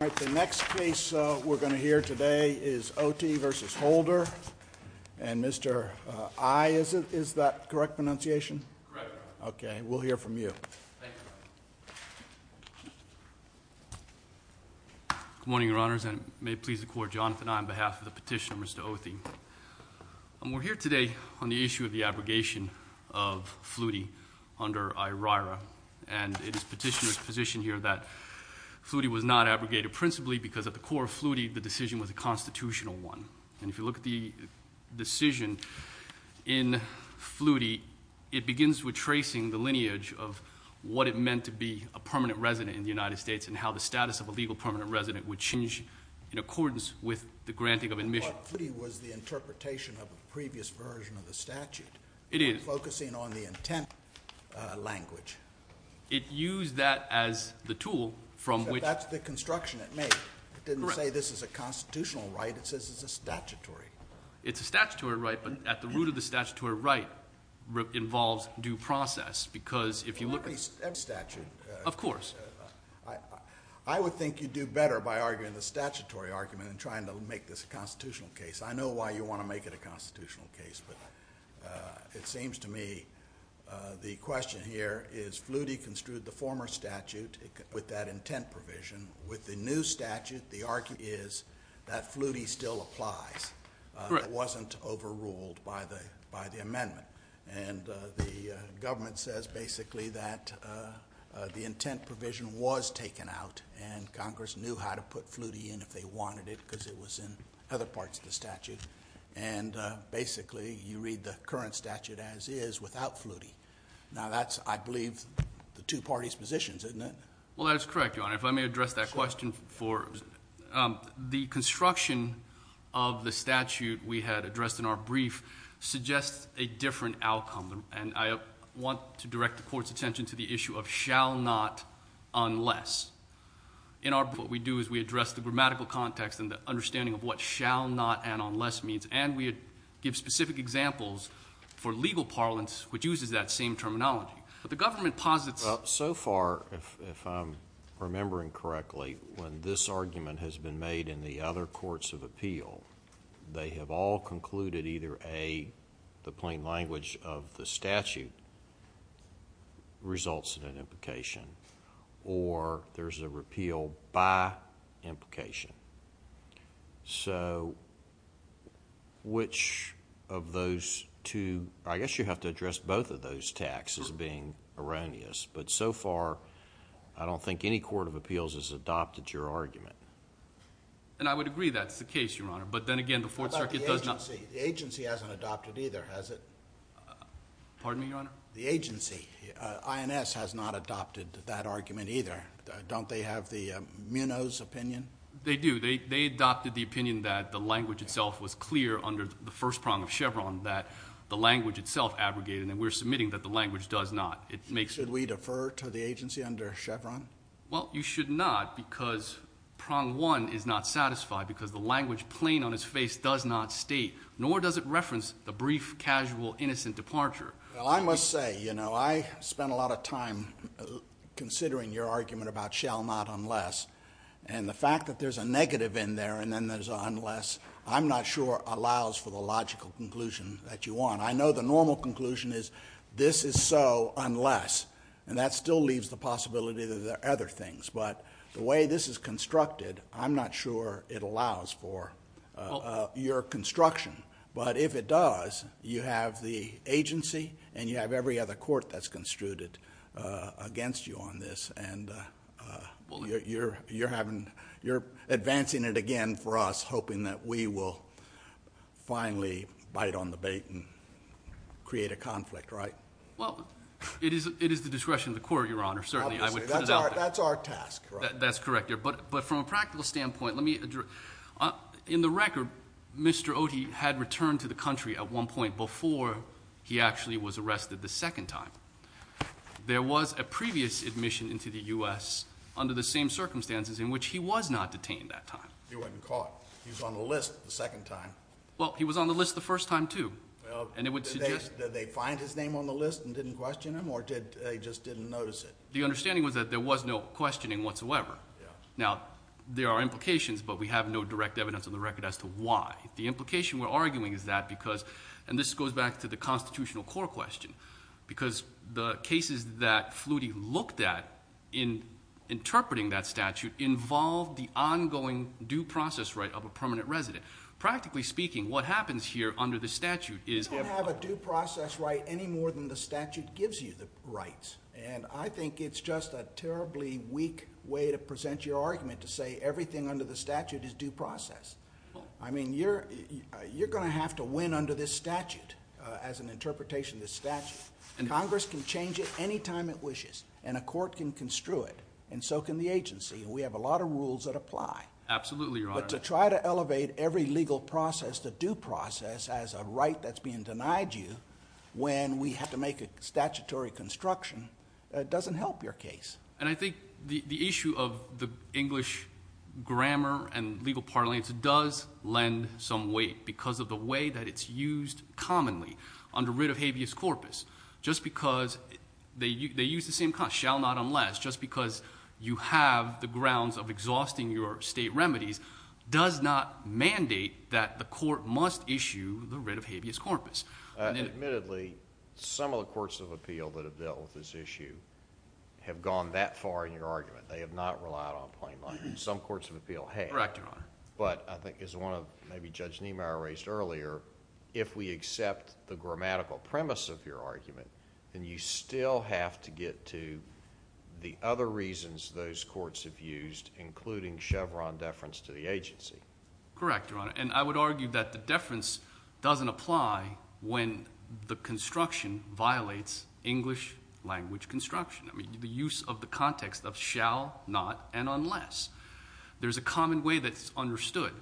All right, the next case we're going to hear today is Othi v. Holder, and Mr. I, is that correct pronunciation? Correct. Okay, we'll hear from you. Thank you. Good morning, Your Honors, and may it please the Court, Jonathan I, on behalf of the petitioner, Mr. Othi. We're here today on the issue of the abrogation of Flutie under IRIRA, and it is petitioner's position here that Flutie was not abrogated principally because at the core of Flutie the decision was a constitutional one. And if you look at the decision in Flutie, it begins with tracing the lineage of what it meant to be a permanent resident in the United States and how the status of a legal permanent resident would change in accordance with the granting of admission. But Flutie was the interpretation of a previous version of the statute. It is. Focusing on the intent language. It used that as the tool from which. That's the construction it made. Correct. It didn't say this is a constitutional right. It says it's a statutory. It's a statutory right, but at the root of the statutory right involves due process because if you look at. If you look at every statute. Of course. I would think you'd do better by arguing the statutory argument than trying to make this a constitutional case. I know why you want to make it a constitutional case, but it seems to me the question here is Flutie construed the former statute with that intent provision. With the new statute, the argument is that Flutie still applies. Correct. It wasn't overruled by the amendment. And the government says basically that the intent provision was taken out and Congress knew how to put Flutie in if they wanted it because it was in other parts of the statute. And basically you read the current statute as is without Flutie. Now that's, I believe, the two parties' positions, isn't it? Well, that's correct, Your Honor. If I may address that question for, the construction of the statute we had addressed in our brief suggests a different outcome. And I want to direct the court's attention to the issue of shall not unless. In our, what we do is we address the grammatical context and the understanding of what shall not and unless means. And we give specific examples for legal parlance which uses that same terminology. But the government posits. Well, so far, if I'm remembering correctly, when this argument has been made in the other courts of appeal, they have all concluded either A, the plain language of the statute results in an implication or there's a repeal by implication. So which of those two, I guess you have to address both of those texts as being erroneous. But so far, I don't think any court of appeals has adopted your argument. And I would agree that's the case, Your Honor. But then again, the Fourth Circuit does not. What about the agency? The agency hasn't adopted either, has it? Pardon me, Your Honor? The agency, INS, has not adopted that argument either. Don't they have the Munoz opinion? They do. They adopted the opinion that the language itself was clear under the first prong of Chevron, that the language itself abrogated, and we're submitting that the language does not. Should we defer to the agency under Chevron? Well, you should not because prong one is not satisfied because the language plain on its face does not state, nor does it reference the brief, casual, innocent departure. Well, I must say, you know, I spent a lot of time considering your argument about shall not unless. And the fact that there's a negative in there and then there's an unless, I'm not sure allows for the logical conclusion that you want. I know the normal conclusion is this is so unless. And that still leaves the possibility that there are other things. But the way this is constructed, I'm not sure it allows for your construction. But if it does, you have the agency and you have every other court that's construed against you on this. And you're advancing it again for us, hoping that we will finally bite on the bait and create a conflict, right? Well, it is the discretion of the court, Your Honor. Certainly, I would put it out there. That's our task. That's correct. But from a practical standpoint, let me address. In the record, Mr. Oti had returned to the country at one point before he actually was arrested the second time. There was a previous admission into the U.S. under the same circumstances in which he was not detained that time. He wasn't caught. He was on the list the second time. Well, he was on the list the first time, too. Did they find his name on the list and didn't question him or he just didn't notice it? The understanding was that there was no questioning whatsoever. Now, there are implications, but we have no direct evidence on the record as to why. The implication we're arguing is that because, and this goes back to the constitutional court question, because the cases that Flutie looked at in interpreting that statute involved the ongoing due process right of a permanent resident. Practically speaking, what happens here under the statute is if— You don't have a due process right any more than the statute gives you the rights. And I think it's just a terribly weak way to present your argument to say everything under the statute is due process. I mean, you're going to have to win under this statute as an interpretation of this statute. Congress can change it any time it wishes, and a court can construe it, and so can the agency. And we have a lot of rules that apply. Absolutely, Your Honor. But to try to elevate every legal process to due process as a right that's being denied you when we have to make a statutory construction doesn't help your case. And I think the issue of the English grammar and legal parlance does lend some weight because of the way that it's used commonly under writ of habeas corpus. Just because they use the same—shall not unless—just because you have the grounds of exhausting your state remedies does not mandate that the court must issue the writ of habeas corpus. Admittedly, some of the courts of appeal that have dealt with this issue have gone that far in your argument. They have not relied on plain language. Some courts of appeal have. Correct, Your Honor. But I think as one of maybe Judge Niemeyer raised earlier, if we accept the grammatical premise of your argument, then you still have to get to the other reasons those courts have used, including Chevron deference to the agency. Correct, Your Honor. And I would argue that the deference doesn't apply when the construction violates English language construction, the use of the context of shall, not, and unless. There's a common way that's understood.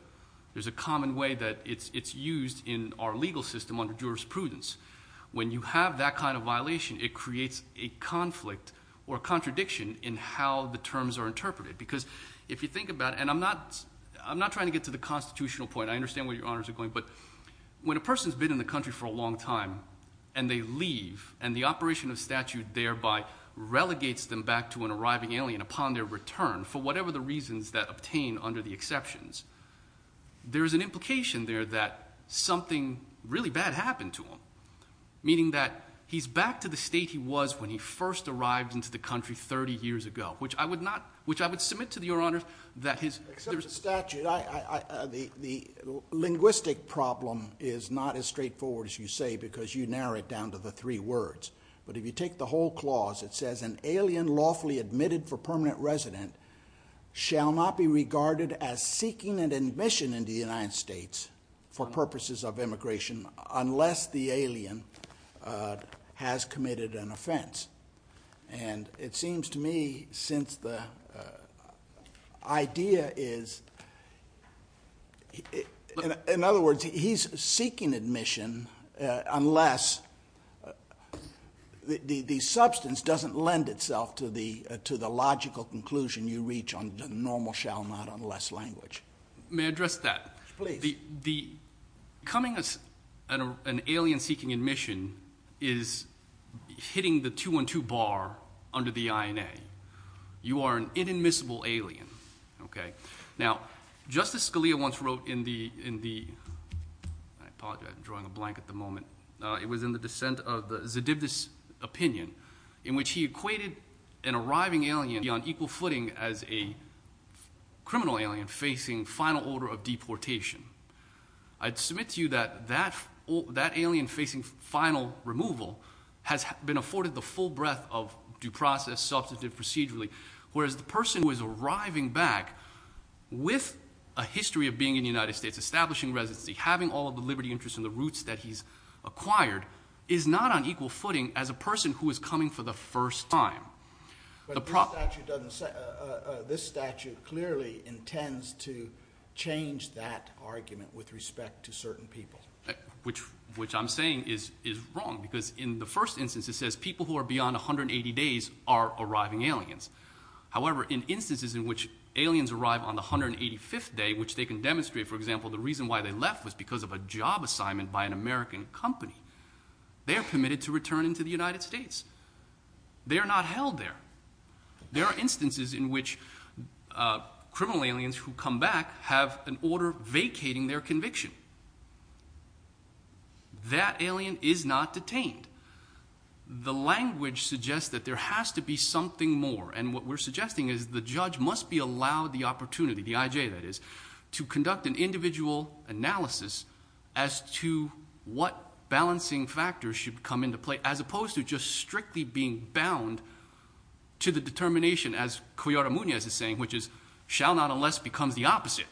There's a common way that it's used in our legal system under jurisprudence. When you have that kind of violation, it creates a conflict or contradiction in how the terms are interpreted because if you think about it, and I'm not trying to get to the constitutional point. I understand where Your Honors are going. But when a person's been in the country for a long time and they leave, and the operation of statute thereby relegates them back to an arriving alien upon their return for whatever the reasons that obtain under the exceptions, there is an implication there that something really bad happened to them, meaning that he's back to the state he was when he first arrived into the country 30 years ago, which I would submit to Your Honors that his... Except for statute, the linguistic problem is not as straightforward as you say because you narrow it down to the three words. But if you take the whole clause, it says an alien lawfully admitted for permanent resident shall not be regarded as seeking an admission into the United States for purposes of immigration unless the alien has committed an offense. And it seems to me since the idea is, in other words, he's seeking admission unless the substance doesn't lend itself to the logical conclusion you reach on the normal shall not unless language. May I address that? Please. Becoming an alien seeking admission is hitting the 2-1-2 bar under the INA. You are an inadmissible alien. Now, Justice Scalia once wrote in the... I apologize, I'm drawing a blank at the moment. It was in the dissent of the Zedidus opinion in which he equated an arriving alien to be on equal footing as a criminal alien facing final order of deportation. I'd submit to you that that alien facing final removal has been afforded the full breadth of due process, substantive, procedurally, whereas the person who is arriving back with a history of being in the United States, establishing residency, having all of the liberty, interest, and the roots that he's acquired is not on equal footing as a person who is coming for the first time. But this statute clearly intends to change that argument with respect to certain people. Which I'm saying is wrong because in the first instance it says people who are beyond 180 days are arriving aliens. However, in instances in which aliens arrive on the 185th day, which they can demonstrate, for example, the reason why they left was because of a job assignment by an American company, they are permitted to return into the United States. They are not held there. There are instances in which criminal aliens who come back have an order vacating their conviction. That alien is not detained. The language suggests that there has to be something more, and what we're suggesting is the judge must be allowed the opportunity, the I.J. that is, to conduct an individual analysis as to what balancing factors should come into play as opposed to just strictly being bound to the determination, as Cuellar-Muñez is saying, which is shall not unless becomes the opposite,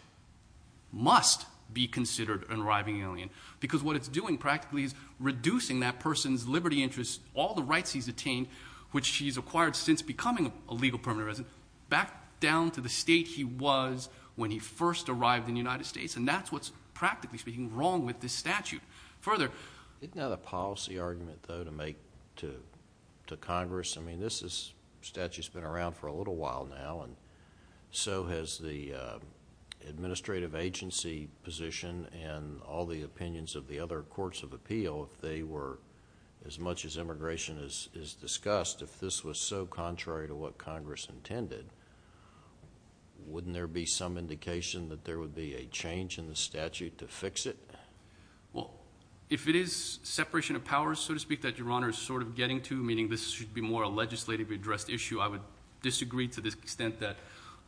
must be considered an arriving alien. Because what it's doing practically is reducing that person's liberty, interest, all the rights he's attained, which he's acquired since becoming a legal permanent resident, back down to the state he was when he first arrived in the United States, and that's what's practically speaking wrong with this statute. Further? Isn't that a policy argument, though, to make to Congress? I mean, this statute's been around for a little while now, and so has the administrative agency position and all the opinions of the other courts of appeal. If they were, as much as immigration is discussed, if this was so contrary to what Congress intended, wouldn't there be some indication that there would be a change in the statute to fix it? Well, if it is separation of powers, so to speak, that Your Honor is sort of getting to, meaning this should be more a legislatively addressed issue, I would disagree to the extent that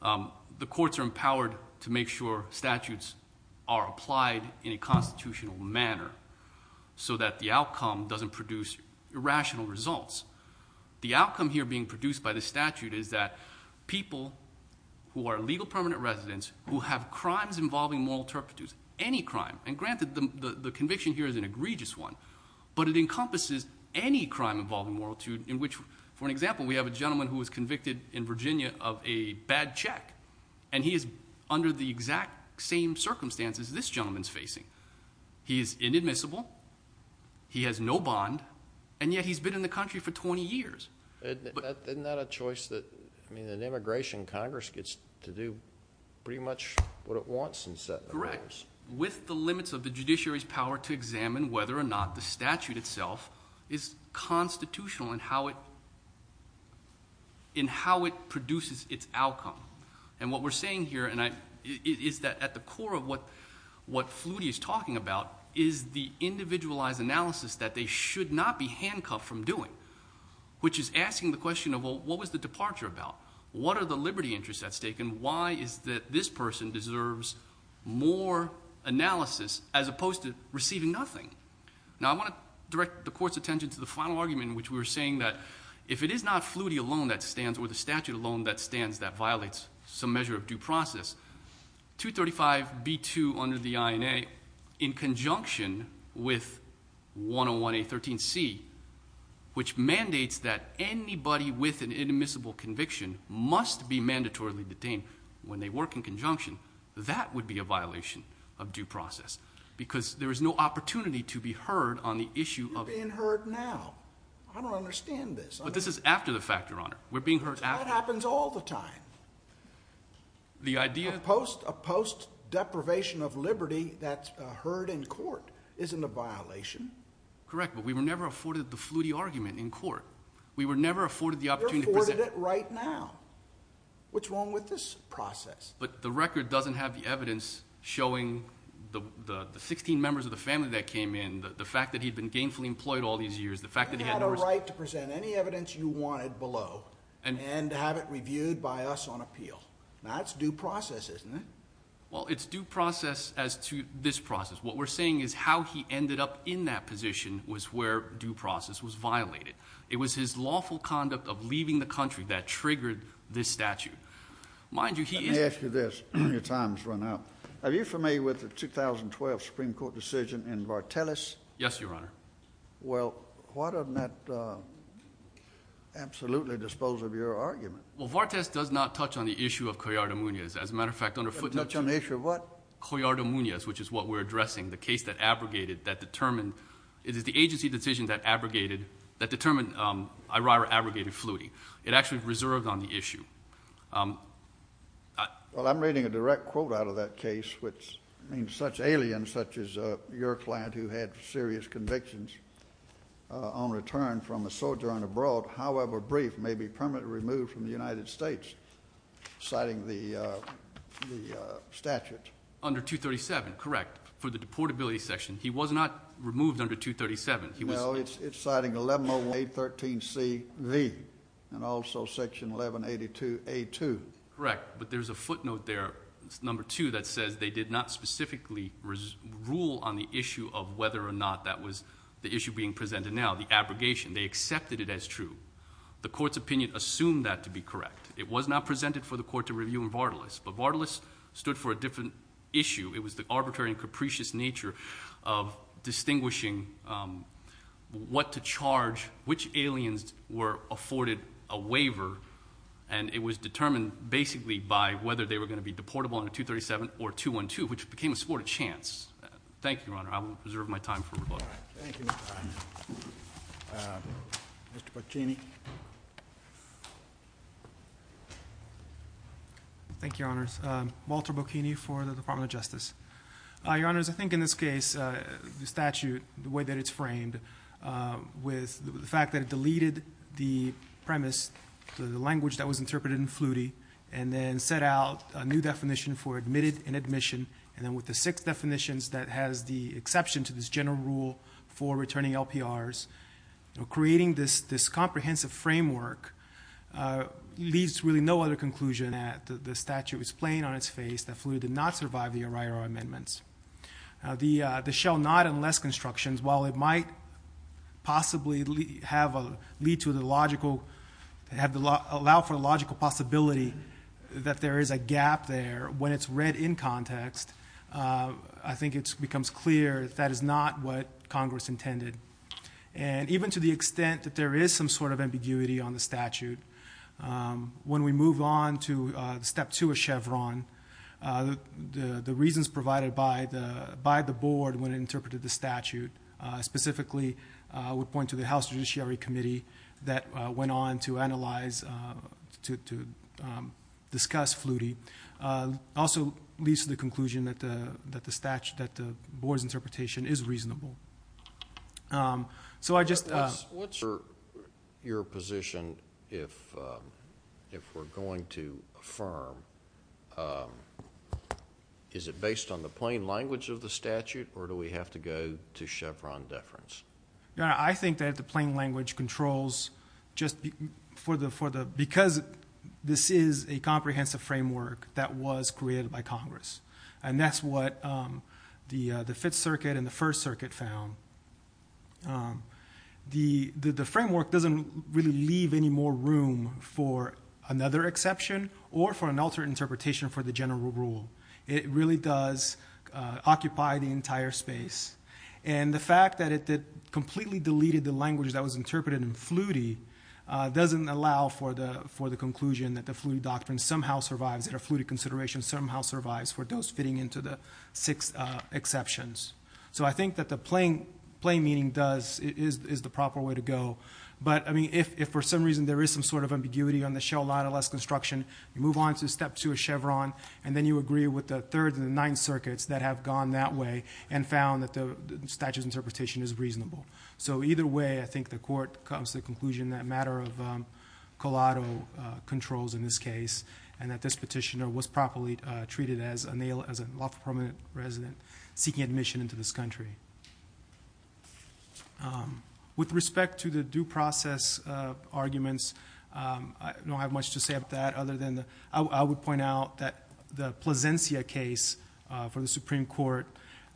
the courts are empowered to make sure statutes are applied in a constitutional manner so that the outcome doesn't produce irrational results. The outcome here being produced by the statute is that people who are legal permanent residents who have crimes involving moral turpitude, any crime, and granted the conviction here is an egregious one, but it encompasses any crime involving moral turpitude in which, for example, we have a gentleman who was convicted in Virginia of a bad check, and he is under the exact same circumstances this gentleman's facing. He is inadmissible, he has no bond, and yet he's been in the country for 20 years. Isn't that a choice that an immigration Congress gets to do pretty much what it wants in setting the rules? Correct. With the limits of the judiciary's power to examine whether or not the statute itself is constitutional in how it produces its outcome. And what we're saying here is that at the core of what Flutie is talking about is the individualized analysis that they should not be handcuffed from doing, which is asking the question of what was the departure about? What are the liberty interests at stake? And why is it that this person deserves more analysis as opposed to receiving nothing? Now, I want to direct the court's attention to the final argument in which we were saying that if it is not Flutie alone that stands or the statute alone that stands that violates some measure of due process, 235B2 under the INA in conjunction with 101A13C, which mandates that anybody with an inadmissible conviction must be mandatorily detained when they work in conjunction, that would be a violation of due process because there is no opportunity to be heard on the issue of- You're being heard now. I don't understand this. But this is after the fact, Your Honor. We're being heard- That happens all the time. The idea- A post-deprivation of liberty that's heard in court isn't a violation. Correct, but we were never afforded the Flutie argument in court. We were never afforded the opportunity to present- You're afforded it right now. What's wrong with this process? But the record doesn't have the evidence showing the 16 members of the family that came in, the fact that he'd been gainfully employed all these years, the fact that he had- You have the right to present any evidence you wanted below and have it reviewed by us on appeal. That's due process, isn't it? Well, it's due process as to this process. What we're saying is how he ended up in that position was where due process was violated. It was his lawful conduct of leaving the country that triggered this statute. Mind you, he is- Let me ask you this. Your time has run out. Are you familiar with the 2012 Supreme Court decision in Vartelis? Yes, Your Honor. Well, why doesn't that absolutely dispose of your argument? Well, Vartelis does not touch on the issue of Coyarta-Muñiz. As a matter of fact, under footnotes- It doesn't touch on the issue of what? Coyarta-Muñiz, which is what we're addressing, the case that abrogated, that determined- It is the agency decision that abrogated, that determined Irira abrogated Flutie. It actually reserved on the issue. Well, I'm reading a direct quote out of that case, which means such aliens such as your client who had serious convictions on return from a sojourn abroad, however brief, may be permanently removed from the United States, citing the statute. Under 237, correct, for the deportability section. He was not removed under 237. No, it's citing 1101A13CV and also section 1182A2. Correct, but there's a footnote there, number two, that says they did not specifically rule on the issue of whether or not that was the issue being presented now, the abrogation. They accepted it as true. The court's opinion assumed that to be correct. It was not presented for the court to review in Vartelis, but Vartelis stood for a different issue. It was the arbitrary and capricious nature of distinguishing what to charge, and it was determined basically by whether they were going to be deportable under 237 or 212, which became a sport of chance. Thank you, Your Honor. I will reserve my time for rebuttal. Thank you. Mr. Boccini. Thank you, Your Honors. Walter Boccini for the Department of Justice. Your Honors, I think in this case, the statute, the way that it's framed, with the fact that it deleted the premise, the language that was interpreted in Flutie, and then set out a new definition for admitted and admission, and then with the six definitions that has the exception to this general rule for returning LPRs, creating this comprehensive framework leaves really no other conclusion. The statute was plain on its face that Flutie did not survive the O'Reilly amendments. The shall not unless constructions, while it might possibly allow for the logical possibility that there is a gap there, when it's read in context, I think it becomes clear that is not what Congress intended. And even to the extent that there is some sort of ambiguity on the statute, when we move on to step two of Chevron, the reasons provided by the board when it interpreted the statute, specifically would point to the House Judiciary Committee that went on to analyze, to discuss Flutie, also leads to the conclusion that the board's interpretation is reasonable. So I just. What's your position if we're going to affirm, is it based on the plain language of the statute, or do we have to go to Chevron deference? I think that the plain language controls just for the, because this is a comprehensive framework that was created by Congress, and that's what the Fifth Circuit and the First Circuit found. The framework doesn't really leave any more room for another exception or for an alternate interpretation for the general rule. It really does occupy the entire space. And the fact that it completely deleted the language that was interpreted in Flutie doesn't allow for the conclusion that the Flutie doctrine somehow survives, that a Flutie consideration somehow survives for those fitting into the six exceptions. So I think that the plain meaning does, is the proper way to go. But, I mean, if for some reason there is some sort of ambiguity on the Shell-Lada-Less construction, you move on to step two of Chevron, and then you agree with the Third and the Ninth Circuits that have gone that way and found that the statute's interpretation is reasonable. So either way, I think the court comes to the conclusion that a matter of collateral controls in this case, and that this petitioner was properly treated as a lawful permanent resident seeking admission into this country. With respect to the due process arguments, I don't have much to say about that other than, I would point out that the Plasencia case for the Supreme Court,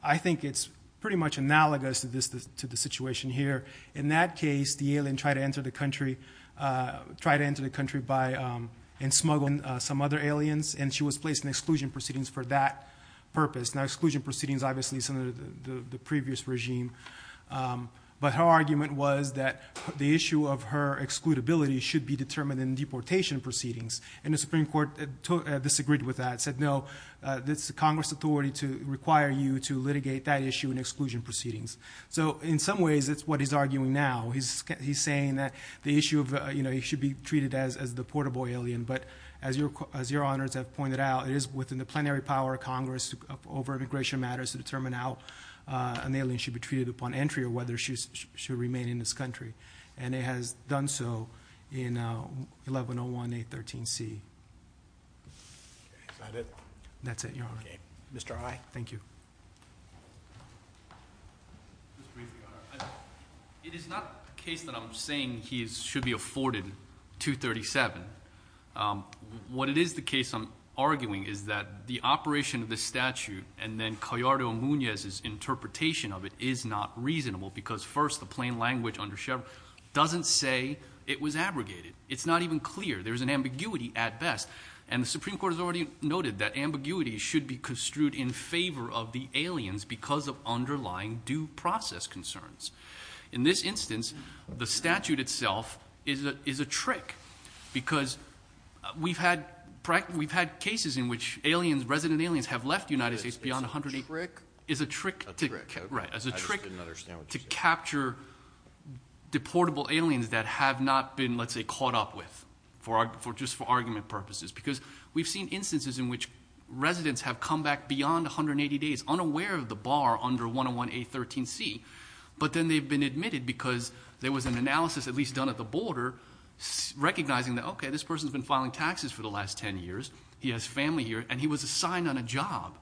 I think it's pretty much analogous to the situation here. In that case, the alien tried to enter the country and smuggled some other aliens, and she was placed in exclusion proceedings for that purpose. Now, exclusion proceedings, obviously, is under the previous regime. But her argument was that the issue of her excludability should be determined in deportation proceedings. And the Supreme Court disagreed with that, said, no, it's the Congress' authority to require you to litigate that issue in exclusion proceedings. So in some ways, it's what he's arguing now. He's saying that the issue of it should be treated as the portable alien. But as your honors have pointed out, it is within the plenary power of Congress over immigration matters to determine how an alien should be treated upon entry or whether she should remain in this country. And it has done so in 1101A13C. Is that it? That's it, your honor. Okay. Mr. High? Thank you. Just briefly, your honor. It is not the case that I'm saying he should be afforded 237. What it is the case I'm arguing is that the operation of this statute and then Callardo-Muñez's interpretation of it is not reasonable because, first, the plain language under Chevron doesn't say it was abrogated. It's not even clear. There's an ambiguity at best. And the Supreme Court has already noted that ambiguity should be construed in favor of the aliens because of underlying due process concerns. In this instance, the statute itself is a trick because we've had cases in which aliens, resident aliens, have left the United States beyond 180. It's a trick? It's a trick. I just didn't understand what you said. It's a trick to capture deportable aliens that have not been, let's say, caught up with just for argument purposes because we've seen instances in which residents have come back beyond 180 days, unaware of the bar under 101A13C, but then they've been admitted because there was an analysis, at least done at the border, recognizing that, okay, this person's been filing taxes for the last 10 years, he has family here, and he was assigned on a job.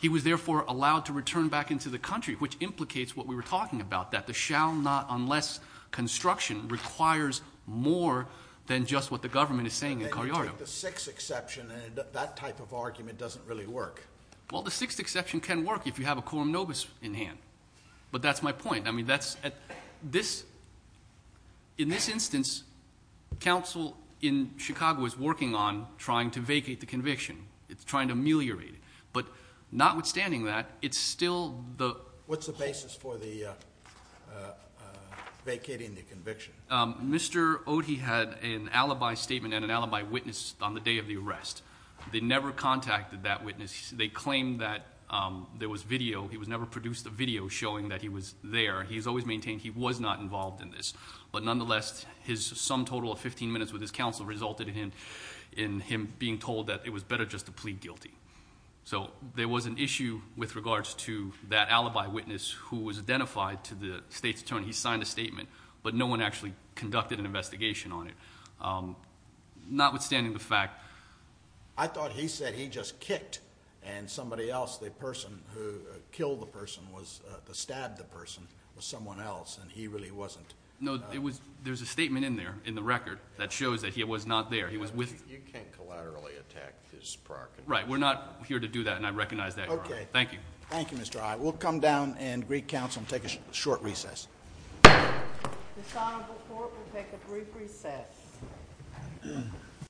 He was, therefore, allowed to return back into the country, which implicates what we were talking about, that the shall not unless construction requires more than just what the government is saying in Cariardo. And then you take the sixth exception, and that type of argument doesn't really work. Well, the sixth exception can work if you have a quorum nobis in hand. But that's my point. I mean, in this instance, counsel in Chicago is working on trying to vacate the conviction. It's trying to ameliorate it. But notwithstanding that, it's still the... What's the basis for the vacating the conviction? Mr. Ohti had an alibi statement and an alibi witness on the day of the arrest. They never contacted that witness. They claimed that there was video. He was never produced a video showing that he was there. He's always maintained he was not involved in this. But nonetheless, his sum total of 15 minutes with his counsel resulted in him being told that it was better just to plead guilty. So there was an issue with regards to that alibi witness who was identified to the state's attorney. He signed a statement, but no one actually conducted an investigation on it. Notwithstanding the fact... I thought he said he just kicked, and somebody else, the person who killed the person, the stabbed the person, was someone else, and he really wasn't. No, there's a statement in there, in the record, that shows that he was not there. You can't collaterally attack his prior convictions. Right, we're not here to do that, and I recognize that, Your Honor. Okay. Thank you. Thank you, Mr. Ohti. We'll come down and greet counsel and take a short recess. This honorable court will take a brief recess.